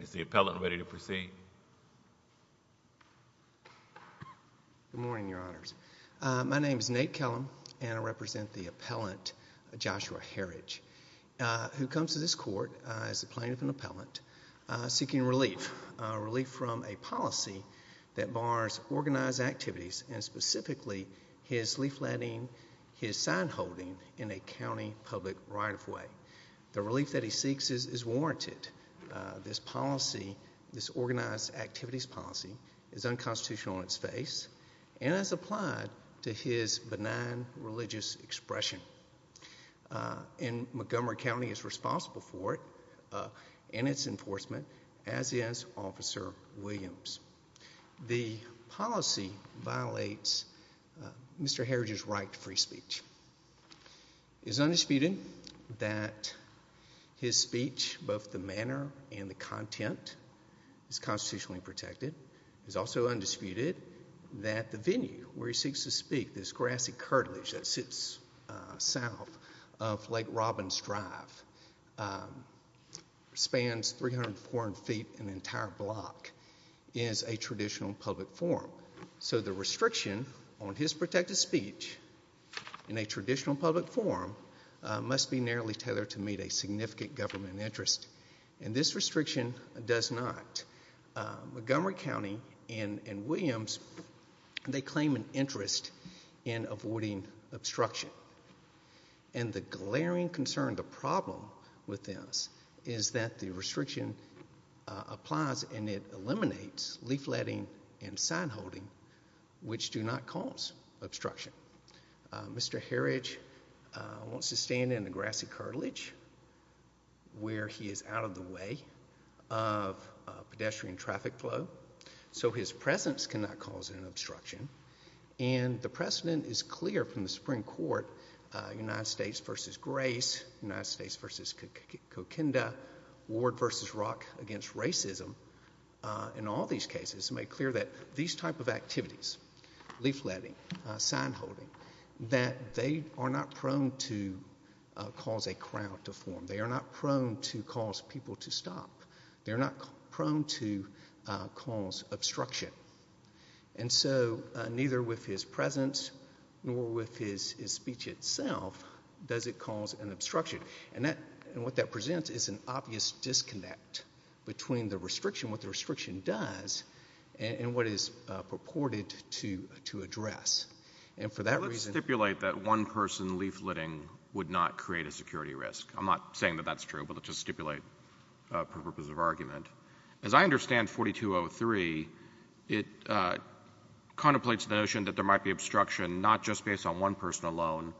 Is the appellant ready to proceed? Good morning, Your Honors. My name is Nate Kellum, and I represent the appellant Joshua Herridge, who comes to this court as the plaintiff and appellant seeking relief, relief from a policy that bars organized activities and specifically his leafletting, his sign-holding in a county public right-of-way. The relief that he seeks is warranted. This policy, this organized activities policy, is unconstitutional in its face and has applied to his benign religious expression. And Montgomery County is responsible for it and its enforcement, as is Officer Williams. The policy violates Mr. Herridge's right to free speech. It is undisputed that his speech, both the manner and the content, is constitutionally protected. It is also undisputed that the venue where he seeks to speak, this grassy cartilage that sits south of Lake Robbins Drive, spans 300, 400 feet, an entire block, is a traditional public forum. So the restriction on his protected speech in a traditional public forum must be narrowly tethered to meet a significant government interest. And this restriction does not. Montgomery County and Williams, they claim an interest in avoiding obstruction. And the glaring concern, the problem with this is that the restriction applies and it eliminates leafletting and sign holding, which do not cause obstruction. Mr. Herridge wants to stand in a grassy cartilage where he is out of the way of pedestrian traffic flow. So his presence cannot cause an obstruction. And the precedent is clear from the Supreme Court, United States versus Grace, United States versus Coquinda, Ward versus Rock against racism, in all these cases made clear that these type of activities, leafletting, sign holding, that they are not prone to cause a crowd to form. They are not prone to cause people to stop. They are not prone to cause obstruction. And so neither with his presence nor with his speech itself does it cause an obstruction. And what that presents is an obvious disconnect between the restriction, what the restriction does, and what it is purported to address. And for that reason — Let's stipulate that one person leafletting would not create a security risk. I'm not saying that that's true, but let's just stipulate for the purpose of argument. As I understand 4203, it contemplates the notion that there might be obstruction not just based on one person alone,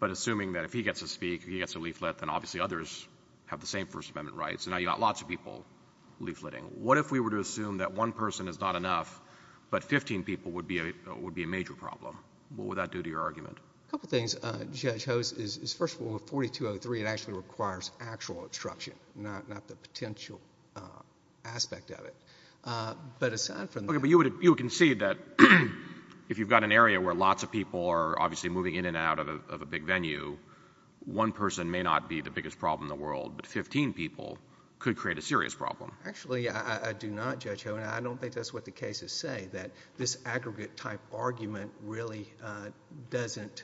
but assuming that if he gets to speak, he gets a leaflet, then obviously others have the same First Amendment rights. So now you've got lots of people leafletting. What if we were to assume that one person is not enough, but 15 people would be a major problem? What would that do to your argument? A couple of things, Judge Hose. First of all, with 4203, it actually requires actual obstruction, not the potential aspect of it. But aside from that — Okay, but you would concede that if you've got an area where lots of people are obviously moving in and out of a big venue, one person may not be the biggest problem in the world, but 15 people could create a serious problem. Actually, I do not, Judge Hogan. I don't think that's what the cases say, that this aggregate-type argument really doesn't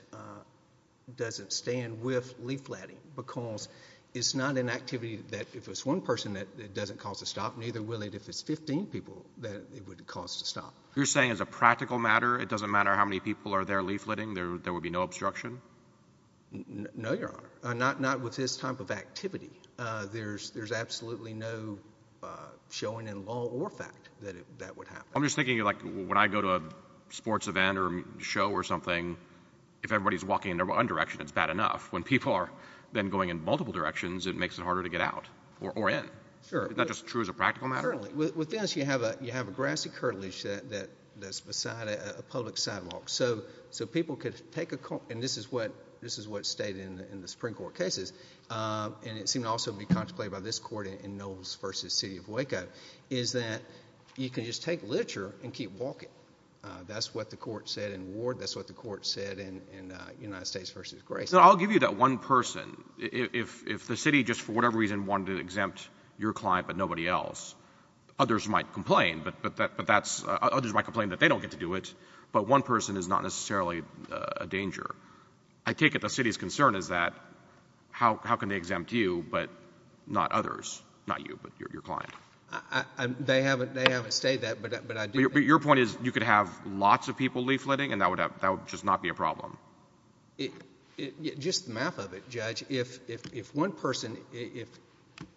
stand with leafletting because it's not an activity that if it's one person, it doesn't cause a stop. Neither will it if it's 15 people that it would cause a stop. You're saying as a practical matter, it doesn't matter how many people are there leafletting, there would be no obstruction? No, Your Honor. Not with this type of activity. There's absolutely no showing in law or fact that that would happen. I'm just thinking, like, when I go to a sports event or show or something, if everybody's walking in one direction, it's bad enough. When people are then going in multiple directions, it makes it harder to get out or in. Sure. Is that just true as a practical matter? Certainly. With this, you have a grassy curtilage that's beside a public sidewalk. So people could take a—and this is what's stated in the Supreme Court cases, and it seemed to also be contemplated by this court in Knowles v. City of Waco, is that you can just take literature and keep walking. That's what the court said in Ward. That's what the court said in United States v. Grayson. I'll give you that one person. If the city just for whatever reason wanted to exempt your client but nobody else, others might complain, but that's—others might complain that they don't get to do it, but one person is not necessarily a danger. I take it the city's concern is that how can they exempt you but not others, not you, but your client? They haven't stated that, but I do think— But your point is you could have lots of people leafletting, and that would just not be a problem? Just the math of it, Judge, if one person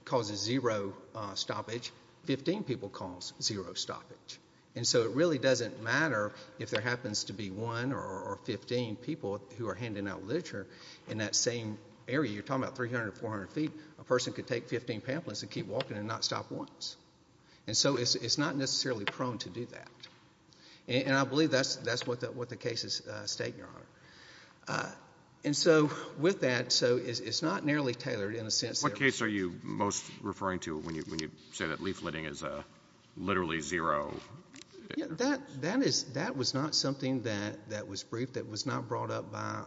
causes zero stoppage, 15 people cause zero stoppage. And so it really doesn't matter if there happens to be one or 15 people who are handing out literature in that same area. You're talking about 300 or 400 feet. A person could take 15 pamphlets and keep walking and not stop once. And so it's not necessarily prone to do that. And I believe that's what the cases state, Your Honor. And so with that, so it's not nearly tailored in a sense. What case are you most referring to when you say that leafletting is literally zero? That is—that was not something that was briefed. That was not brought up by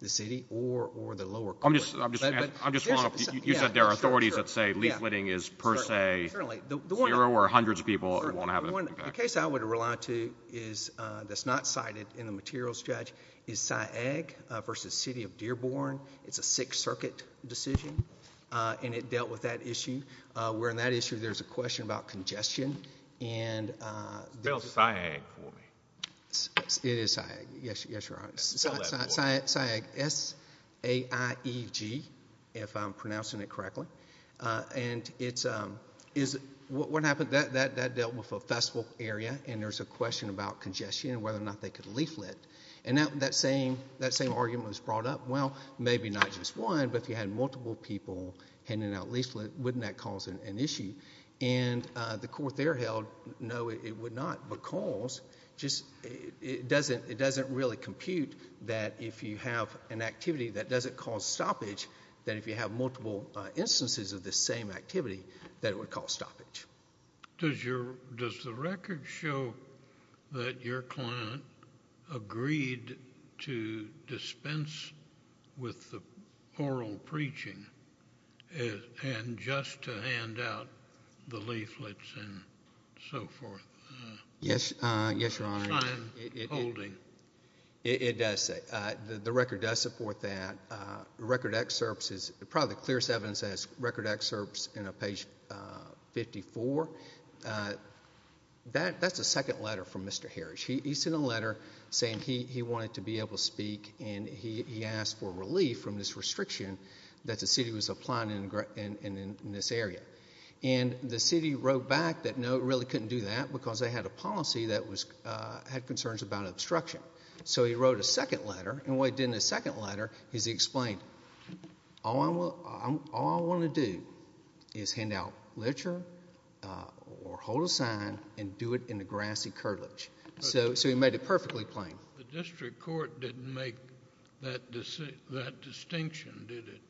the city or the lower courts. I'm just—I'm just—you said there are authorities that say leafletting is per se zero or hundreds of people won't have an impact. The case I would rely to is that's not cited in the materials, Judge, is Syag v. City of Dearborn. It's a Sixth Circuit decision, and it dealt with that issue, wherein that issue there's a question about congestion and— Spell Syag for me. It is Syag. Yes, Your Honor. Spell that for me. Syag, S-A-I-E-G, if I'm pronouncing it correctly. And it's—what happened, that dealt with a festival area, and there's a question about congestion and whether or not they could leaflet. And that same argument was brought up. Well, maybe not just one, but if you had multiple people handing out leaflets, wouldn't that cause an issue? And the court there held no, it would not, because it doesn't really compute that if you have an activity that doesn't cause stoppage, that if you have multiple instances of the same activity, that it would cause stoppage. Does the record show that your client agreed to dispense with the oral preaching and just to hand out the leaflets and so forth? Yes, Your Honor. Time holding. It does say. The record does support that. The record excerpts is probably the clearest evidence as record excerpts in page 54. That's a second letter from Mr. Harris. He sent a letter saying he wanted to be able to speak, and he asked for relief from this restriction that the city was applying in this area. And the city wrote back that no, it really couldn't do that because they had a policy that had concerns about obstruction. So he wrote a second letter. And what he did in the second letter is he explained, all I want to do is hand out literature or hold a sign and do it in the grassy curtilage. So he made it perfectly plain. The district court didn't make that distinction, did it?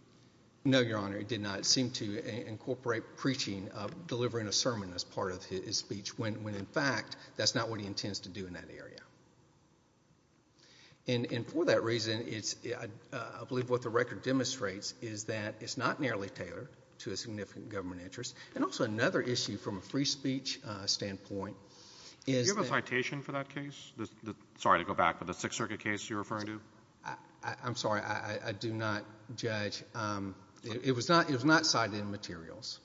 No, Your Honor. It did not seem to incorporate preaching, delivering a sermon as part of his speech, when in fact that's not what he intends to do in that area. And for that reason, I believe what the record demonstrates is that it's not nearly tailored to a significant government interest. And also another issue from a free speech standpoint is that- Do you have a citation for that case? Sorry to go back, but the Sixth Circuit case you're referring to? I'm sorry. I do not, Judge. It was not cited in materials,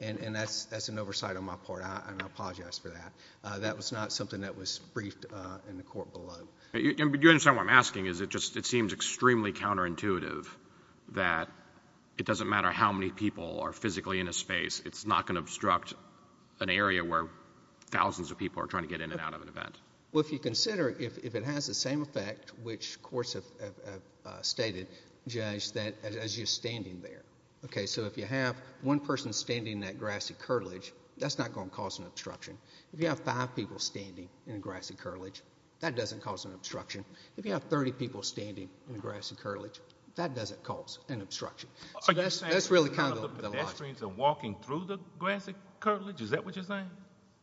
and that's an oversight on my part, and I apologize for that. That was not something that was briefed in the court below. Do you understand what I'm asking? It seems extremely counterintuitive that it doesn't matter how many people are physically in a space. It's not going to obstruct an area where thousands of people are trying to get in and out of an event. Well, if you consider if it has the same effect, which courts have stated, Judge, as you're standing there. Okay, so if you have one person standing in that grassy curtilage, that's not going to cause an obstruction. If you have five people standing in a grassy curtilage, that doesn't cause an obstruction. If you have 30 people standing in a grassy curtilage, that doesn't cause an obstruction. So that's really kind of the logic. Pedestrians are walking through the grassy curtilage? Is that what you're saying?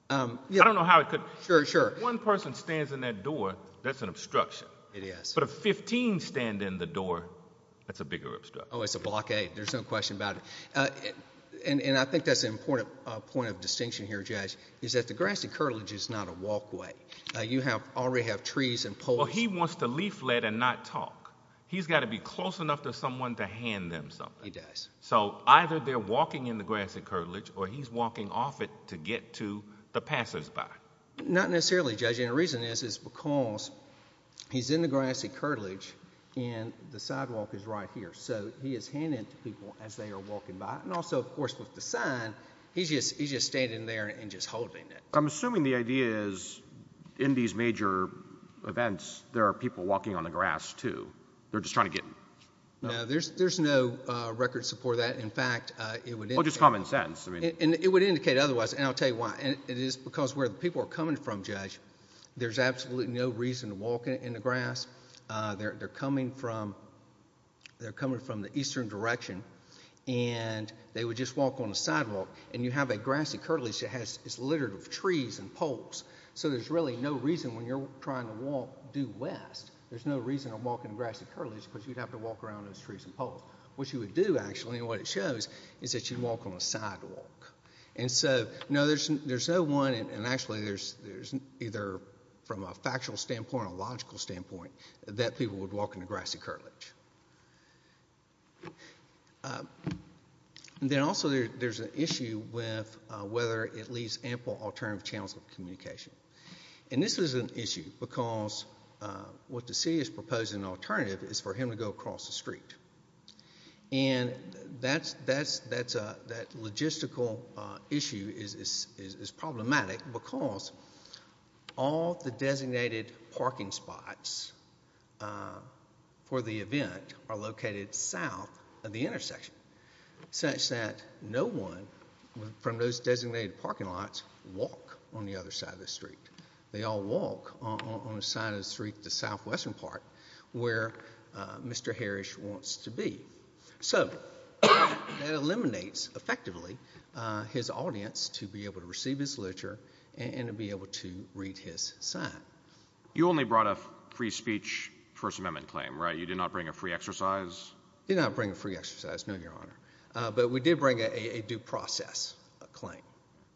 I don't know how it could- Sure, sure. If one person stands in that door, that's an obstruction. It is. But if 15 stand in the door, that's a bigger obstruction. Oh, it's a blockade. There's no question about it. And I think that's an important point of distinction here, Judge, is that the grassy curtilage is not a walkway. You already have trees and poles. Well, he wants to leaflet and not talk. He's got to be close enough to someone to hand them something. He does. So either they're walking in the grassy curtilage or he's walking off it to get to the passersby. Not necessarily, Judge. And the reason is is because he's in the grassy curtilage and the sidewalk is right here. So he is handing it to people as they are walking by. And also, of course, with the sign, he's just standing there and just holding it. I'm assuming the idea is in these major events there are people walking on the grass too. They're just trying to get- No, there's no record support for that. In fact, it would indicate- Oh, just common sense. It would indicate otherwise, and I'll tell you why. It is because where the people are coming from, Judge, there's absolutely no reason to walk in the grass. They're coming from the eastern direction, and they would just walk on the sidewalk. And you have a grassy curtilage that is littered with trees and poles, so there's really no reason when you're trying to walk due west, there's no reason to walk in the grassy curtilage because you'd have to walk around those trees and poles. What you would do, actually, and what it shows is that you'd walk on a sidewalk. And so, no, there's no one, and actually there's either from a factual standpoint or a logical standpoint that people would walk in a grassy curtilage. Then also there's an issue with whether it leaves ample alternative channels of communication. And this is an issue because what the city is proposing an alternative is for him to go across the street. And that logistical issue is problematic because all the designated parking spots for the event are located south of the intersection such that no one from those designated parking lots walk on the other side of the street. They all walk on the side of the street, the southwestern part, where Mr. Harish wants to be. So that eliminates, effectively, his audience to be able to receive his literature and to be able to read his sign. You only brought a free speech First Amendment claim, right? You did not bring a free exercise? Did not bring a free exercise, no, Your Honor. But we did bring a due process claim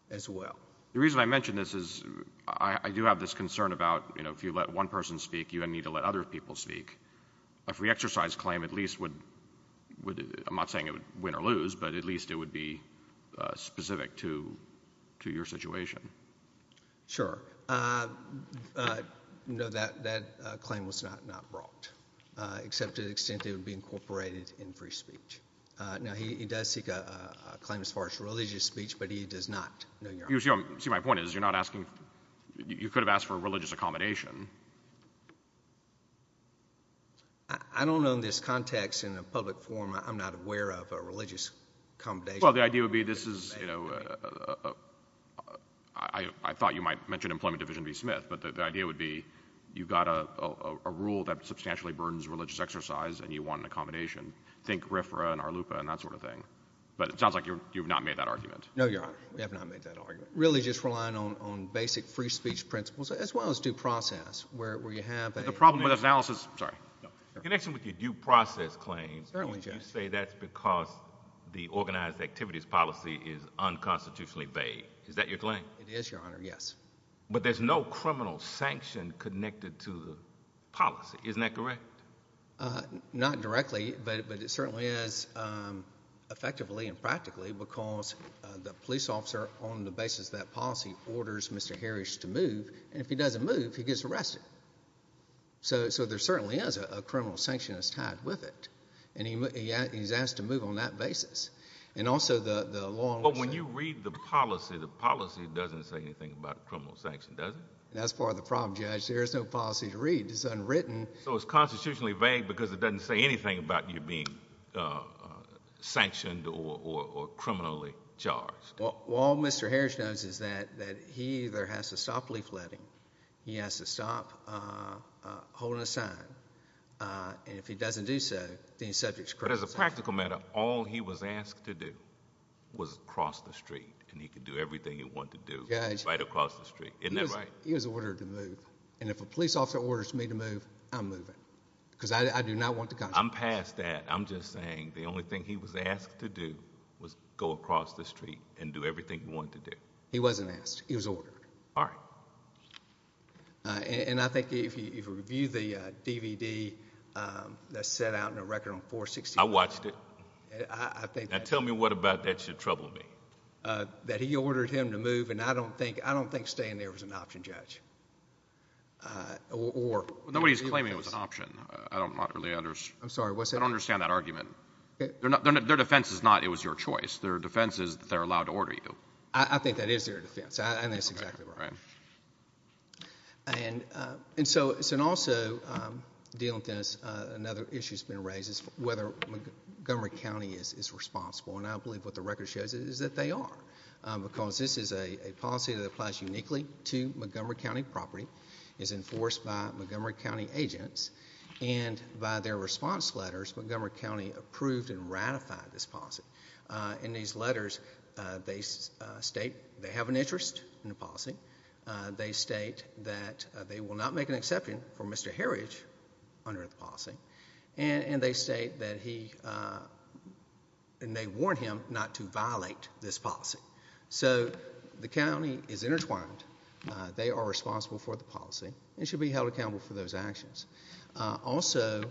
as well. The reason I mention this is I do have this concern about if you let one person speak, you need to let other people speak. A free exercise claim at least would, I'm not saying it would win or lose, but at least it would be specific to your situation. Sure. No, that claim was not brought, except to the extent it would be incorporated in free speech. Now, he does seek a claim as far as religious speech, but he does not, Your Honor. You see, my point is you're not asking, you could have asked for a religious accommodation. I don't know in this context, in a public forum, I'm not aware of a religious accommodation. Well, the idea would be this is, you know, I thought you might mention Employment Division v. Smith, but the idea would be you've got a rule that substantially burdens religious exercise and you want an accommodation. Think RFRA and RLUPA and that sort of thing. But it sounds like you've not made that argument. No, Your Honor. We have not made that argument. Really just relying on basic free speech principles as well as due process where you have a— But the problem with analysis—sorry. In connection with your due process claims, you say that's because the organized activities policy is unconstitutionally veiled. Is that your claim? It is, Your Honor, yes. But there's no criminal sanction connected to the policy. Isn't that correct? Not directly, but it certainly is effectively and practically because the police officer, on the basis of that policy, orders Mr. Harris to move, and if he doesn't move, he gets arrested. So there certainly is a criminal sanction that's tied with it, and he's asked to move on that basis. And also the law— But when you read the policy, the policy doesn't say anything about criminal sanction, does it? That's part of the problem, Judge. There is no policy to read. It's unwritten. So it's constitutionally vague because it doesn't say anything about you being sanctioned or criminally charged. All Mr. Harris knows is that he either has to stop leafletting, he has to stop holding a sign, and if he doesn't do so, then he's subject to criminal sanction. But as a practical matter, all he was asked to do was cross the street, and he could do everything he wanted to do right across the street. Isn't that right? He was ordered to move, and if a police officer orders me to move, I'm moving because I do not want the consequences. I'm past that. I'm just saying the only thing he was asked to do was go across the street and do everything he wanted to do. He wasn't asked. He was ordered. All right. And I think if you review the DVD that's set out in a record on 461— I watched it. I think that's— Now tell me what about that should trouble me. That he ordered him to move, and I don't think staying there was an option, Judge, or— Nobody's claiming it was an option. I don't really understand. I'm sorry, what's that? I don't understand that argument. Their defense is not it was your choice. Their defense is that they're allowed to order you. All right. And so also dealing with this, another issue that's been raised is whether Montgomery County is responsible, and I believe what the record shows is that they are because this is a policy that applies uniquely to Montgomery County property, is enforced by Montgomery County agents, and by their response letters, Montgomery County approved and ratified this policy. In these letters, they state they have an interest in the policy. They state that they will not make an exception for Mr. Heritage under the policy, and they state that he—and they warn him not to violate this policy. So the county is intertwined. They are responsible for the policy and should be held accountable for those actions. Also,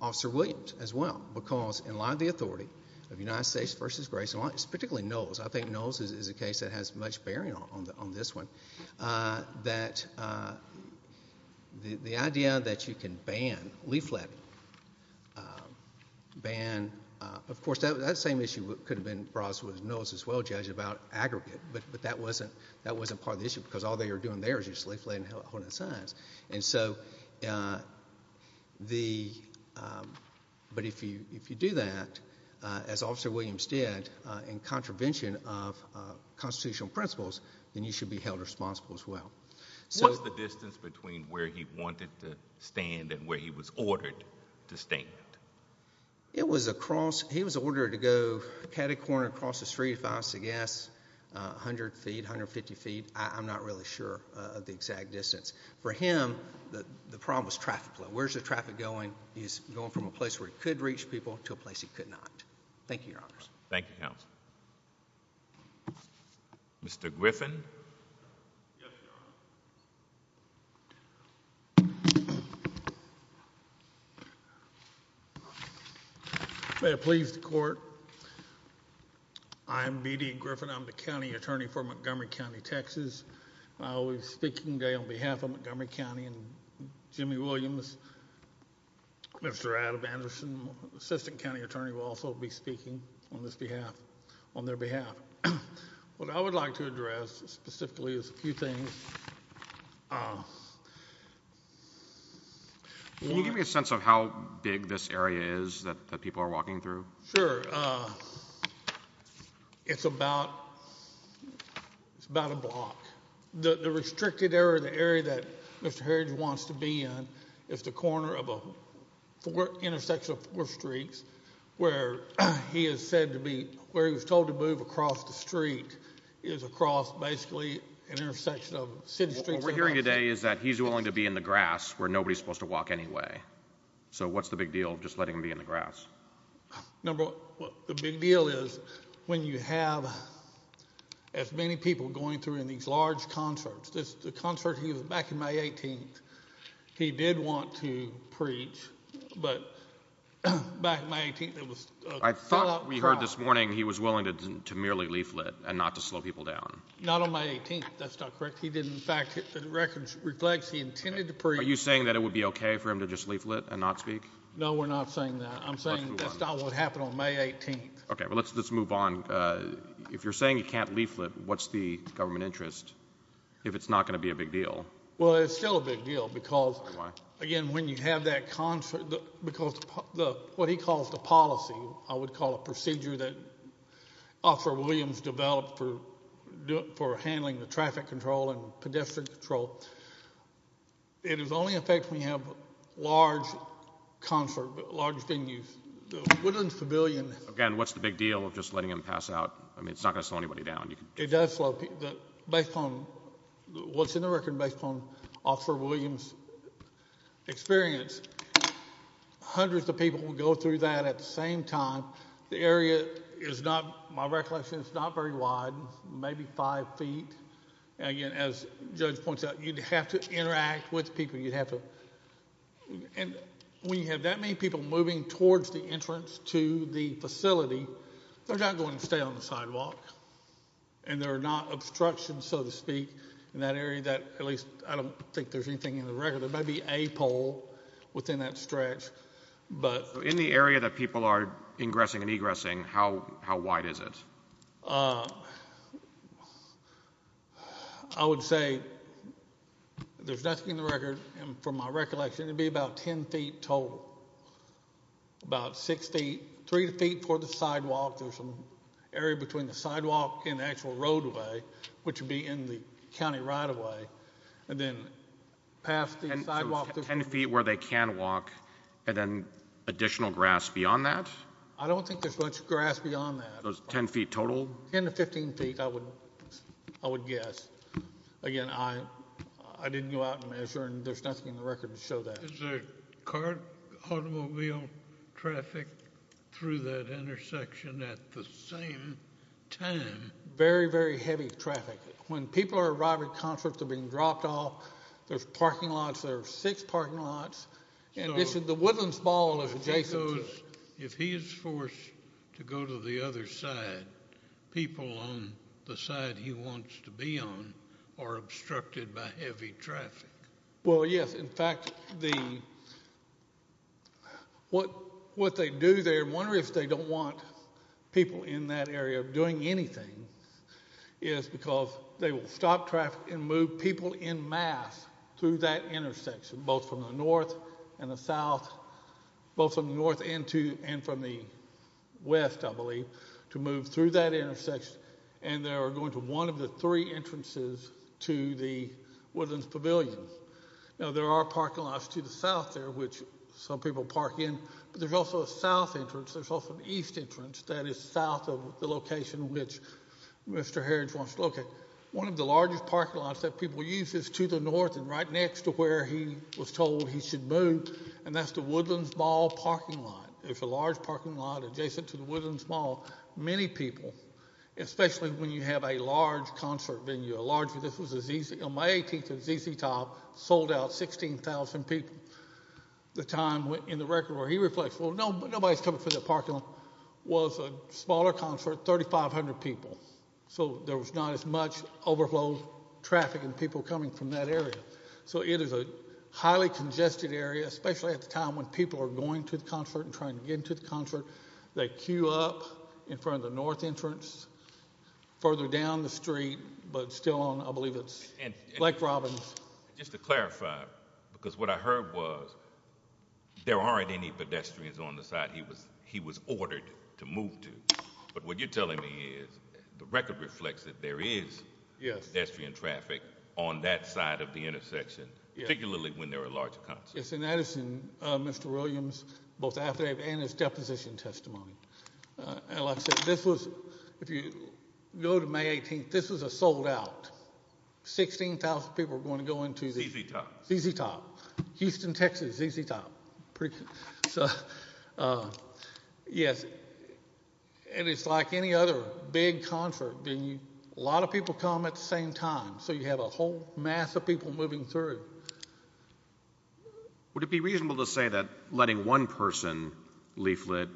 Officer Williams as well, because in light of the authority of United States v. Grayson, particularly Knowles— I think Knowles is a case that has much bearing on this one— that the idea that you can ban leafletting, ban— of course, that same issue could have been brought up with Knowles as well, Judge, about aggregate, but that wasn't part of the issue because all they were doing there was just leafletting and holding signs. And so the—but if you do that, as Officer Williams did, in contravention of constitutional principles, then you should be held responsible as well. So— What's the distance between where he wanted to stand and where he was ordered to stand? It was across—he was ordered to go—had a corner across the street, if I was to guess, 100 feet, 150 feet. I'm not really sure of the exact distance. For him, the problem was traffic flow. Where's the traffic going? He's going from a place where he could reach people to a place he could not. Thank you, Your Honors. Thank you, Counsel. Mr. Griffin? Yes, Your Honor. May it please the Court. I am B.D. Griffin. I'm the county attorney for Montgomery County, Texas. I will be speaking today on behalf of Montgomery County and Jimmy Williams. Mr. Adam Anderson, assistant county attorney, will also be speaking on this behalf—on their behalf. What I would like to address specifically is a few things. Can you give me a sense of how big this area is that people are walking through? Sure. It's about—it's about a block. The restricted area, the area that Mr. Herridge wants to be in, is the corner of a intersection of four streets, where he is said to be—where he was told to move across the street is across, basically, an intersection of city streets. What we're hearing today is that he's willing to be in the grass where nobody's supposed to walk anyway. So what's the big deal of just letting him be in the grass? Number one, the big deal is when you have as many people going through in these large concerts. The concert—he was back in May 18th. He did want to preach, but back in May 18th, it was a full-out crowd. I thought we heard this morning he was willing to merely leaflet and not to slow people down. Not on May 18th. That's not correct. Are you saying that it would be okay for him to just leaflet and not speak? No, we're not saying that. I'm saying that's not what happened on May 18th. Okay. Well, let's move on. If you're saying you can't leaflet, what's the government interest if it's not going to be a big deal? Well, it's still a big deal because, again, when you have that concert—because what he calls the policy, I would call a procedure that Officer Williams developed for handling the traffic control and pedestrian control. It only affects when you have large concert, large venues. The Woodlands Pavilion— Again, what's the big deal of just letting them pass out? I mean, it's not going to slow anybody down. It does slow people. Based on what's in the record based on Officer Williams' experience, hundreds of people will go through that at the same time. The area is not—my recollection is it's not very wide, maybe five feet. Again, as Judge points out, you'd have to interact with people. You'd have to—and when you have that many people moving towards the entrance to the facility, they're not going to stay on the sidewalk, and there are not obstructions, so to speak, in that area. At least, I don't think there's anything in the record. There might be a pole within that stretch, but— In the area that people are ingressing and egressing, how wide is it? I would say there's nothing in the record. From my recollection, it would be about 10 feet total, about six feet, three feet for the sidewalk. There's an area between the sidewalk and the actual roadway, which would be in the county right-of-way, and then past the sidewalk— Ten feet where they can walk, and then additional grass beyond that? I don't think there's much grass beyond that. Ten feet total? Ten to 15 feet, I would guess. Again, I didn't go out and measure, and there's nothing in the record to show that. Is there car—automobile traffic through that intersection at the same time? Very, very heavy traffic. When people are arriving at concerts, they're being dropped off. There's parking lots. Because if he is forced to go to the other side, people on the side he wants to be on are obstructed by heavy traffic. Well, yes. In fact, what they do there—I wonder if they don't want people in that area doing anything— is because they will stop traffic and move people in mass through that intersection, both from the north and the south, both from the north and from the west, I believe, to move through that intersection, and they are going to one of the three entrances to the Woodlands Pavilion. Now, there are parking lots to the south there, which some people park in, but there's also a south entrance. There's also an east entrance that is south of the location which Mr. Harrods wants to locate. One of the largest parking lots that people use is to the north and right next to where he was told he should move, and that's the Woodlands Mall parking lot. There's a large parking lot adjacent to the Woodlands Mall. Many people, especially when you have a large concert venue, a large—this was a ZZ— on May 18th, a ZZ Top sold out 16,000 people. The time in the record where he reflects, well, nobody's coming from that parking lot, was a smaller concert, 3,500 people. So there was not as much overflow traffic and people coming from that area. So it is a highly congested area, especially at the time when people are going to the concert and trying to get into the concert. They queue up in front of the north entrance, further down the street, but still on, I believe, Lake Robbins. Just to clarify, because what I heard was there aren't any pedestrians on the side he was ordered to move to. But what you're telling me is the record reflects that there is pedestrian traffic on that side of the intersection, particularly when there are large concerts. Yes, and that is in Mr. Williams' both affidavit and his deposition testimony. Like I said, this was—if you go to May 18th, this was a sold-out. 16,000 people were going to go into the— ZZ Top. ZZ Top. Houston, Texas, ZZ Top. Yes, and it's like any other big concert. A lot of people come at the same time, so you have a whole mass of people moving through. Would it be reasonable to say that letting one person leaflet,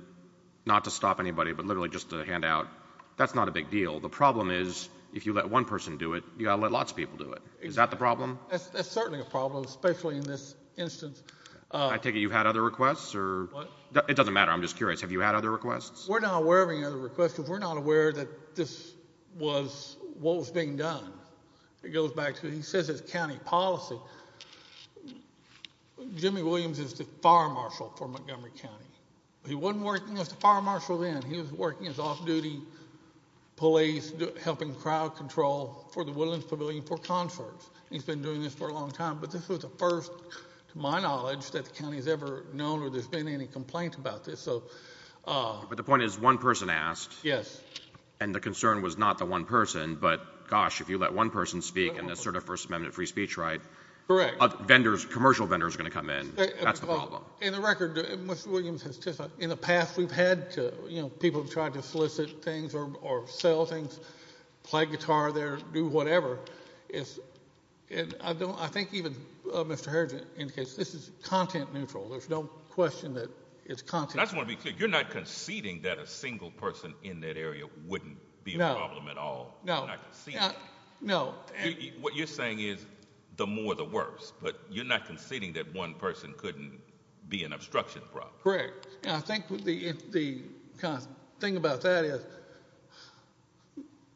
not to stop anybody but literally just to hand out, that's not a big deal? The problem is if you let one person do it, you've got to let lots of people do it. Is that the problem? That's certainly a problem, especially in this instance. I take it you've had other requests or— What? It doesn't matter. I'm just curious. Have you had other requests? We're not aware of any other requests because we're not aware that this was what was being done. It goes back to—he says it's county policy. Jimmy Williams is the fire marshal for Montgomery County. He wasn't working as the fire marshal then. He was working as off-duty police, helping crowd control for the Woodlands Pavilion for concerts. He's been doing this for a long time. But this was the first, to my knowledge, that the county has ever known where there's been any complaint about this. But the point is one person asked. Yes. And the concern was not the one person. But gosh, if you let one person speak, and that's sort of First Amendment free speech, right? Correct. Vendors, commercial vendors are going to come in. That's the problem. In the record, Mr. Williams has testified, in the past we've had people try to solicit things or sell things, play guitar there, do whatever. I think even Mr. Herridge indicates this is content neutral. There's no question that it's content neutral. I just want to be clear. You're not conceding that a single person in that area wouldn't be a problem at all. No. You're not conceding. No. What you're saying is the more the worse. But you're not conceding that one person couldn't be an obstruction problem. Correct. I think the thing about that is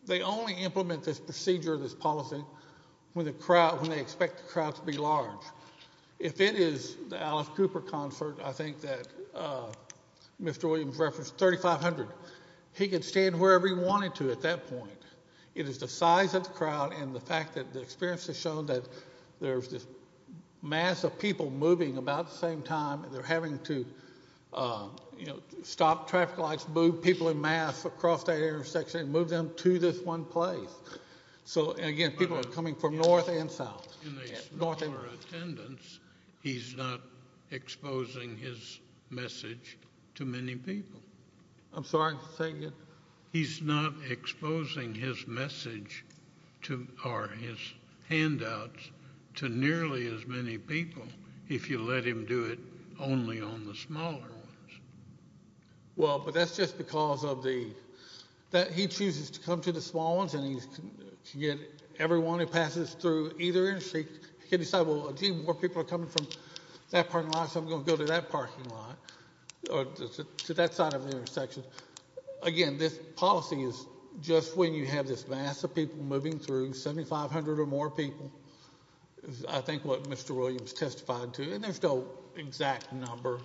they only implement this procedure, this policy, when they expect the crowd to be large. If it is the Alice Cooper concert, I think that Mr. Williams referenced, 3,500, he could stand wherever he wanted to at that point. It is the size of the crowd and the fact that the experience has shown that there's this mass of people moving about at the same time. They're having to stop traffic lights, move people in mass across that intersection and move them to this one place. So, again, people are coming from north and south. In a smaller attendance, he's not exposing his message to many people. I'm sorry, say again. He's not exposing his message or his handouts to nearly as many people if you let him do it only on the smaller ones. Well, but that's just because he chooses to come to the small ones and he can get everyone who passes through either intersection. He can decide, well, a few more people are coming from that parking lot, so I'm going to go to that parking lot or to that side of the intersection. Again, this policy is just when you have this mass of people moving through, 7,500 or more people, is I think what Mr. Williams testified to. And there's no exact number,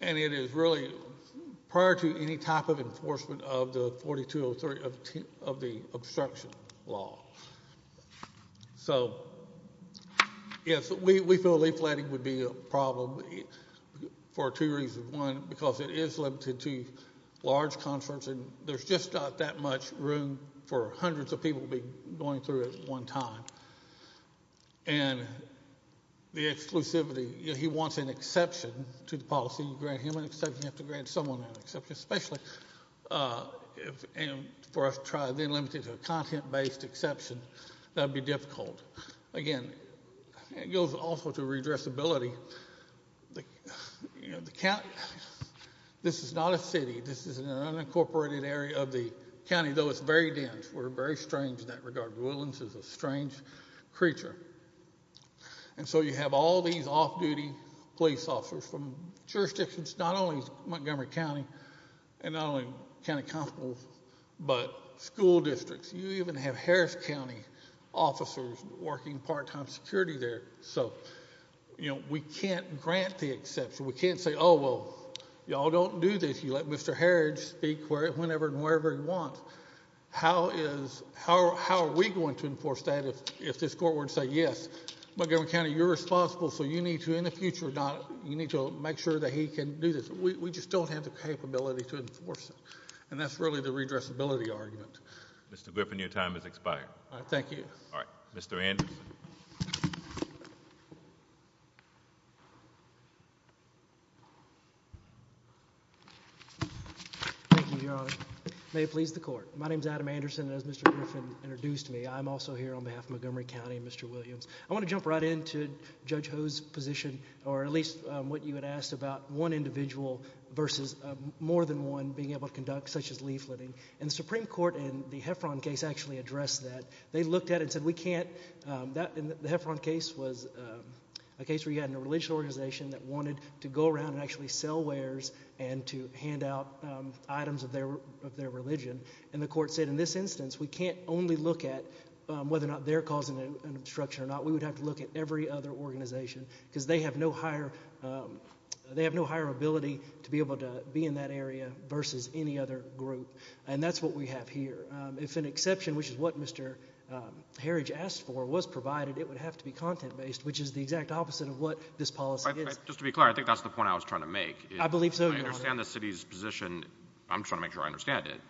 and it is really prior to any type of enforcement of the 4203 of the obstruction law. So, yes, we feel leafletting would be a problem for two reasons. One, because it is limited to large concerts and there's just not that much room for hundreds of people to be going through at one time. And the exclusivity, he wants an exception to the policy. You grant him an exception, you have to grant someone an exception, especially for us to try. If you're limited to a content-based exception, that would be difficult. Again, it goes also to redressability. The county, this is not a city. This is an unincorporated area of the county, though it's very dense. We're very strange in that regard. Williams is a strange creature. And so you have all these off-duty police officers from jurisdictions, not only Montgomery County and not only county constables, but school districts. You even have Harris County officers working part-time security there. So, you know, we can't grant the exception. We can't say, oh, well, y'all don't do this. You let Mr. Harrods speak whenever and wherever he wants. How are we going to enforce that if this court were to say, yes, Montgomery County, you're responsible, so you need to, in the future, you need to make sure that he can do this. We just don't have the capability to enforce it. And that's really the redressability argument. Mr. Griffin, your time has expired. Thank you. Mr. Anderson. Thank you, Your Honor. May it please the court. My name is Adam Anderson, and as Mr. Griffin introduced me, I'm also here on behalf of Montgomery County and Mr. Williams. I want to jump right into Judge Ho's position, or at least what you had asked about one individual versus more than one being able to conduct such as leafleting. And the Supreme Court in the Heffron case actually addressed that. They looked at it and said we can't – the Heffron case was a case where you had a religious organization that wanted to go around and actually sell wares and to hand out items of their religion. And the court said in this instance we can't only look at whether or not they're causing an obstruction or not. We would have to look at every other organization because they have no higher – they have no higher ability to be able to be in that area versus any other group. And that's what we have here. If an exception, which is what Mr. Herridge asked for, was provided, it would have to be content-based, which is the exact opposite of what this policy is. Just to be clear, I think that's the point I was trying to make. I believe so, Your Honor. I understand the city's position. I'm just trying to make sure I understand it.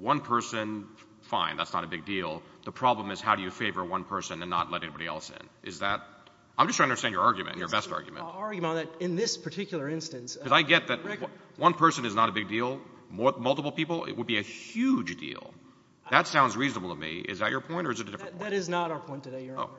One person, fine, that's not a big deal. The problem is how do you favor one person and not let anybody else in? Is that – I'm just trying to understand your argument, your best argument. I'll argue on that. In this particular instance – Because I get that one person is not a big deal. Multiple people, it would be a huge deal. That sounds reasonable to me. Is that your point or is it a different point? That is not our point today, Your Honor.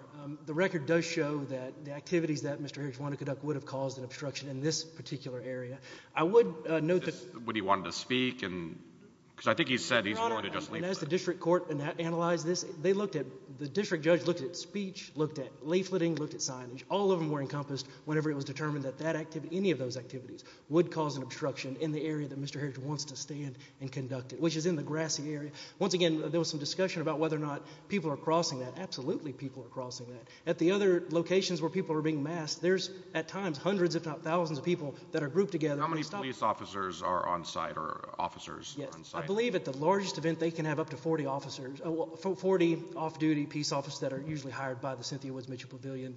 The record does show that the activities that Mr. Herridge wanted to conduct would have caused an obstruction in this particular area. I would note that – But he wanted to speak and – because I think he said he's going to just leave. Your Honor, and as the district court analyzed this, they looked at – the district judge looked at speech, looked at leafleting, looked at signage. All of them were encompassed whenever it was determined that that – any of those activities would cause an obstruction in the area that Mr. Herridge wants to stand and conduct it, which is in the grassy area. Once again, there was some discussion about whether or not people are crossing that. Absolutely people are crossing that. At the other locations where people are being massed, there's at times hundreds if not thousands of people that are grouped together. How many police officers are on site or officers on site? I believe at the largest event they can have up to 40 officers – 40 off-duty peace officers that are usually hired by the Cynthia Woods Mitchell Pavilion.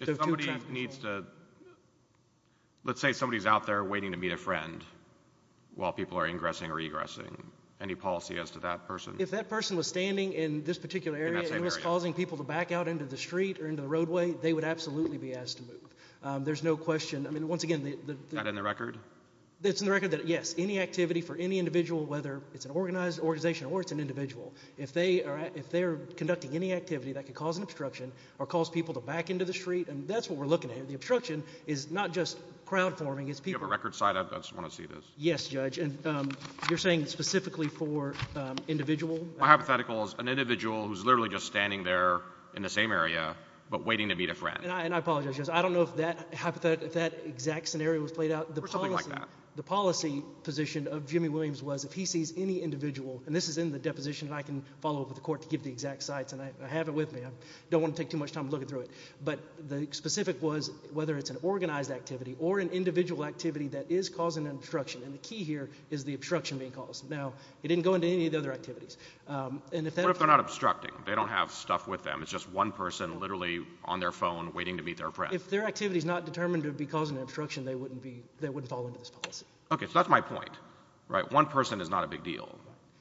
If somebody needs to – let's say somebody's out there waiting to meet a friend while people are ingressing or egressing. Any policy as to that person? If that person was standing in this particular area and was causing people to back out into the street or into the roadway, they would absolutely be asked to move. There's no question – I mean, once again – Is that in the record? It's in the record that, yes, any activity for any individual, whether it's an organized organization or it's an individual, if they are conducting any activity that could cause an obstruction or cause people to back into the street, that's what we're looking at. The obstruction is not just crowdforming, it's people. Do you have a record site? I just want to see this. Yes, Judge, and you're saying specifically for individual? My hypothetical is an individual who's literally just standing there in the same area but waiting to meet a friend. And I apologize, Judge, I don't know if that exact scenario was played out. Something like that. The policy position of Jimmy Williams was if he sees any individual – and this is in the deposition, and I can follow up with the court to give the exact sites, and I have it with me. I don't want to take too much time looking through it. But the specific was whether it's an organized activity or an individual activity that is causing an obstruction. And the key here is the obstruction being caused. Now, it didn't go into any of the other activities. What if they're not obstructing? They don't have stuff with them. It's just one person literally on their phone waiting to meet their friend. If their activity is not determined to be causing an obstruction, they wouldn't fall into this policy. Okay, so that's my point. One person is not a big deal.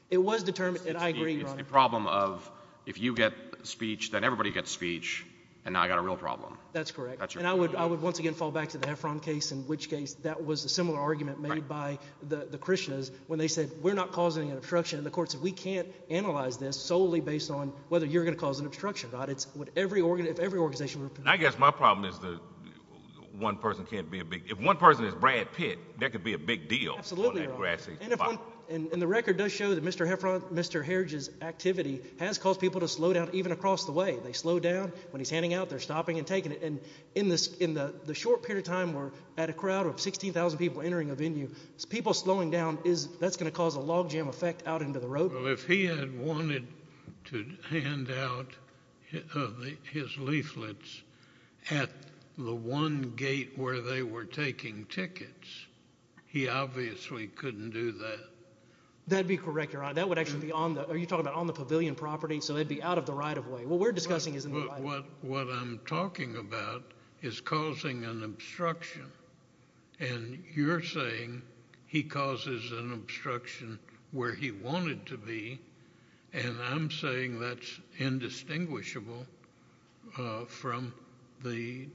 It was determined – and I agree, Your Honor. It's the problem of if you get speech, then everybody gets speech, and now I've got a real problem. That's correct. And I would once again fall back to the Heffron case in which case that was a similar argument made by the Christians when they said we're not causing an obstruction. And the court said we can't analyze this solely based on whether you're going to cause an obstruction. I guess my problem is that one person can't be a big – if one person is Brad Pitt, that could be a big deal. Absolutely, Your Honor. And the record does show that Mr. Heffron, Mr. Herridge's activity has caused people to slow down even across the way. They slow down. When he's handing out, they're stopping and taking it. And in the short period of time we're at a crowd of 16,000 people entering a venue, people slowing down, that's going to cause a logjam effect out into the road. Well, if he had wanted to hand out his leaflets at the one gate where they were taking tickets, he obviously couldn't do that. That would be correct, Your Honor. That would actually be on the – you're talking about on the pavilion property, so it would be out of the right-of-way. What we're discussing is in the right-of-way. But what I'm talking about is causing an obstruction, and you're saying he causes an obstruction where he wanted to be, and I'm saying that's indistinguishable from the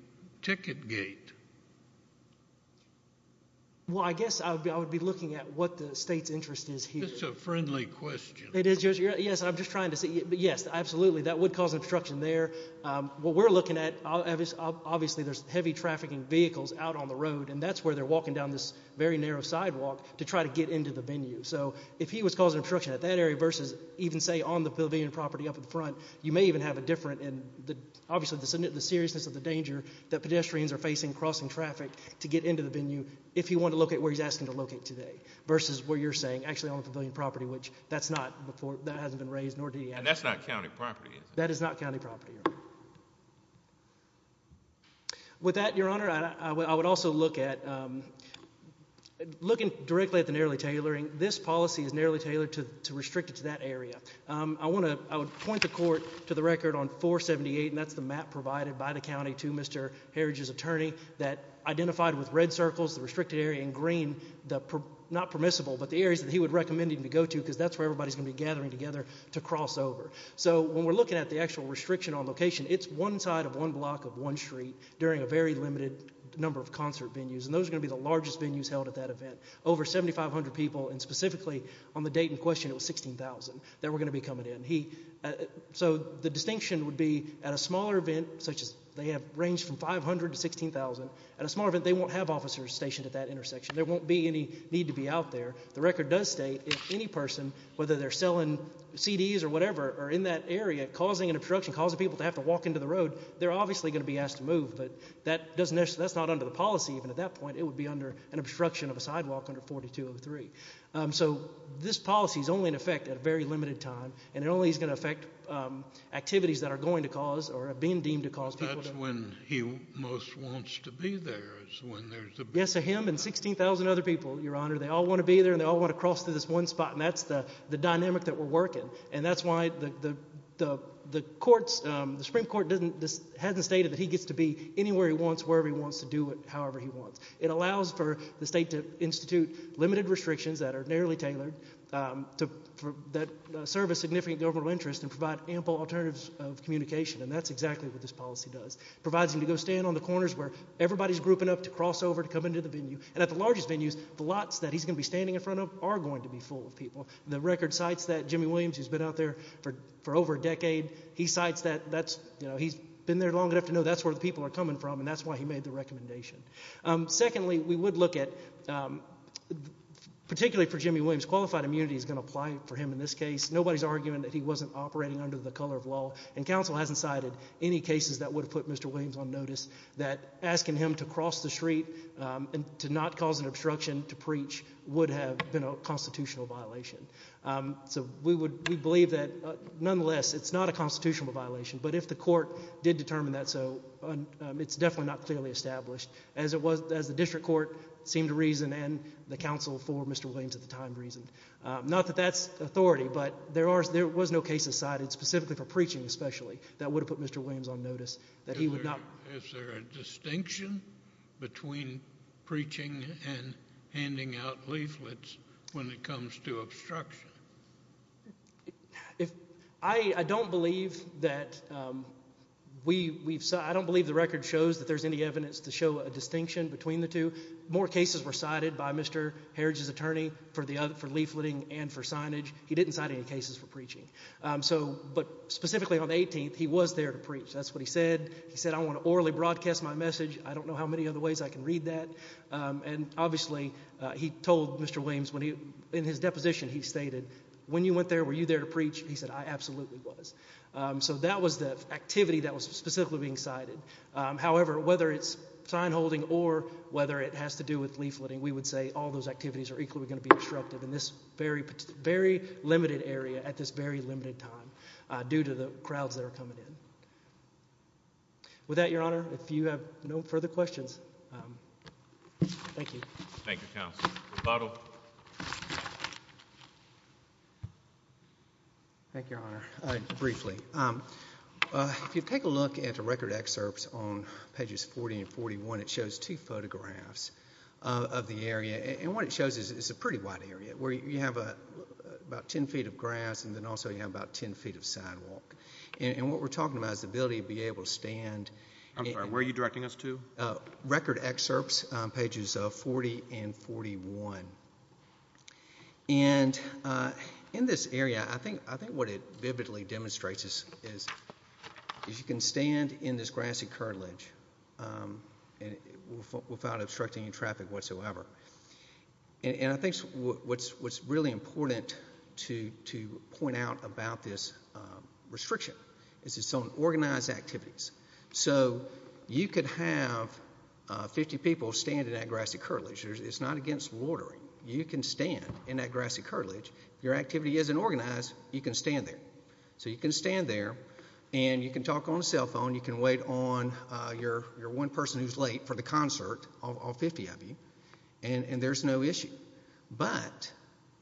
ticket gate. Well, I guess I would be looking at what the state's interest is here. It's a friendly question. It is, Your Honor. Yes, I'm just trying to see – yes, absolutely, that would cause an obstruction there. What we're looking at, obviously there's heavy trafficking vehicles out on the road, and that's where they're walking down this very narrow sidewalk to try to get into the venue. So if he was causing obstruction at that area versus even, say, on the pavilion property up in front, you may even have a different – And that's not county property, is it? That is not county property, Your Honor. With that, Your Honor, I would also look at – looking directly at the narrowly tailoring, this policy is narrowly tailored to restrict it to that area. I want to – I would point the court to the record on 478, and that's the map provided by the county to Mr. Harridge's attorney that identified with red circles the restricted area and green the – not permissible, but the areas that he would recommend him to go to because that's where everybody's going to be gathering together to cross over. So when we're looking at the actual restriction on location, it's one side of one block of one street during a very limited number of concert venues, and those are going to be the largest venues held at that event. Over 7,500 people, and specifically on the date in question it was 16,000 that were going to be coming in. So the distinction would be at a smaller event such as – they have range from 500 to 16,000. At a smaller event, they won't have officers stationed at that intersection. There won't be any need to be out there. The record does state if any person, whether they're selling CDs or whatever, are in that area causing an obstruction, causing people to have to walk into the road, they're obviously going to be asked to move. But that doesn't – that's not under the policy even at that point. It would be under an obstruction of a sidewalk under 4203. So this policy is only in effect at a very limited time, and it only is going to affect activities that are going to cause or are being deemed to cause people to – That's when he most wants to be there is when there's a big – Yes, so him and 16,000 other people, Your Honor, they all want to be there and they all want to cross through this one spot, and that's the dynamic that we're working. And that's why the courts – the Supreme Court hasn't stated that he gets to be anywhere he wants, wherever he wants to do it, however he wants. It allows for the state to institute limited restrictions that are narrowly tailored to – that serve a significant governmental interest and provide ample alternatives of communication. And that's exactly what this policy does. It provides him to go stand on the corners where everybody's grouping up to cross over to come into the venue. And at the largest venues, the lots that he's going to be standing in front of are going to be full of people. The record cites that Jimmy Williams, who's been out there for over a decade, he cites that that's – he's been there long enough to know that's where the people are coming from, and that's why he made the recommendation. Secondly, we would look at – particularly for Jimmy Williams, qualified immunity is going to apply for him in this case. Nobody's arguing that he wasn't operating under the color of law, and counsel hasn't cited any cases that would have put Mr. Williams on notice that asking him to cross the street and to not cause an obstruction to preach would have been a constitutional violation. So we would – we believe that nonetheless it's not a constitutional violation, but if the court did determine that so, it's definitely not clearly established, as it was – as the district court seemed to reason and the counsel for Mr. Williams at the time reasoned. Not that that's authority, but there are – there was no case cited specifically for preaching especially that would have put Mr. Williams on notice that he would not – Is there a distinction between preaching and handing out leaflets when it comes to obstruction? If – I don't believe that we've – I don't believe the record shows that there's any evidence to show a distinction between the two. More cases were cited by Mr. Heritage's attorney for the – for leafleting and for signage. He didn't cite any cases for preaching. So – but specifically on the 18th, he was there to preach. That's what he said. He said, I want to orally broadcast my message. I don't know how many other ways I can read that. And obviously he told Mr. Williams when he – in his deposition he stated, when you went there, were you there to preach? He said, I absolutely was. So that was the activity that was specifically being cited. However, whether it's sign holding or whether it has to do with leafleting, we would say all those activities are equally going to be obstructed in this very, very limited area at this very limited time due to the crowds that are coming in. With that, Your Honor, if you have no further questions, thank you. Thank you, Counsel. Rebuttal. Thank you, Your Honor. Briefly, if you take a look at the record excerpts on pages 40 and 41, it shows two photographs of the area. And what it shows is it's a pretty wide area where you have about 10 feet of grass and then also you have about 10 feet of sidewalk. And what we're talking about is the ability to be able to stand – I'm sorry, where are you directing us to? Record excerpts on pages 40 and 41. And in this area, I think what it vividly demonstrates is you can stand in this grassy curtilage without obstructing any traffic whatsoever. And I think what's really important to point out about this restriction is it's on organized activities. So you could have 50 people stand in that grassy curtilage. It's not against loitering. You can stand in that grassy curtilage. If your activity isn't organized, you can stand there. So you can stand there and you can talk on the cell phone. You can wait on your one person who's late for the concert, all 50 of you, and there's no issue. But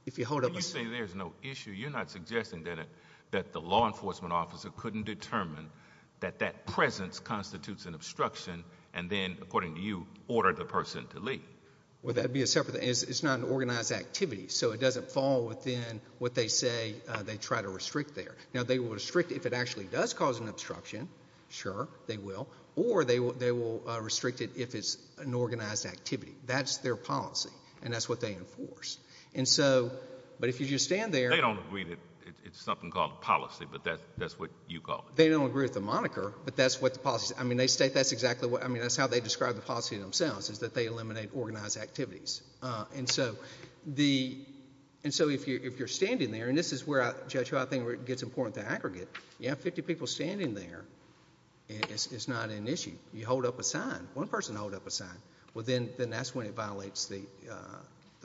if you hold up a – You say there's no issue. You're not suggesting that the law enforcement officer couldn't determine that that presence constitutes an obstruction and then, according to you, order the person to leave. Well, that would be a separate – it's not an organized activity. So it doesn't fall within what they say they try to restrict there. Now, they will restrict if it actually does cause an obstruction. Sure, they will. Or they will restrict it if it's an organized activity. That's their policy, and that's what they enforce. And so – but if you just stand there – They don't agree that it's something called policy, but that's what you call it. They don't agree with the moniker, but that's what the policy is. I mean, they state that's exactly what – I mean, that's how they describe the policy themselves, is that they eliminate organized activities. And so the – and so if you're standing there – and this is where, Judge, I think it gets important to aggregate. You have 50 people standing there, and it's not an issue. You hold up a sign. One person hold up a sign. Well, then that's when it violates the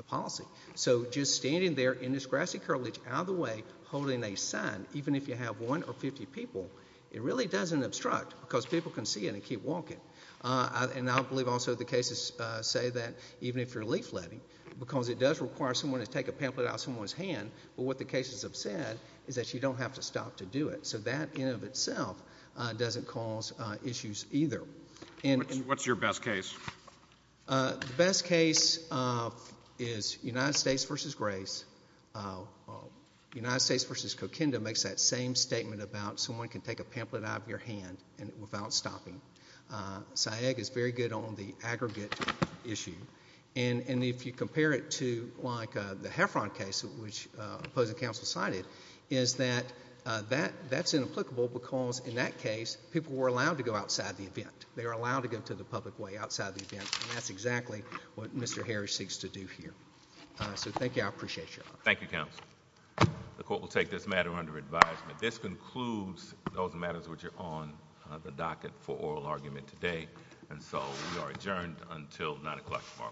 policy. So just standing there in this grassy curblidge, out of the way, holding a sign, even if you have one or 50 people, it really doesn't obstruct because people can see it and keep walking. And I believe also the cases say that even if you're leafletting, because it does require someone to take a pamphlet out of someone's hand, but what the cases have said is that you don't have to stop to do it. So that in and of itself doesn't cause issues either. What's your best case? The best case is United States v. Grace. United States v. Coquinda makes that same statement about someone can take a pamphlet out of your hand without stopping. SAIEG is very good on the aggregate issue. And if you compare it to, like, the Heffron case, which opposing counsel cited, is that that's inapplicable because in that case people were allowed to go outside the event. They were allowed to go to the public way outside the event, and that's exactly what Mr. Harris seeks to do here. So thank you. I appreciate your help. Thank you, counsel. The court will take this matter under advisement. This concludes those matters which are on the docket for oral argument today. And so we are adjourned until 9 o'clock tomorrow morning. Thank you.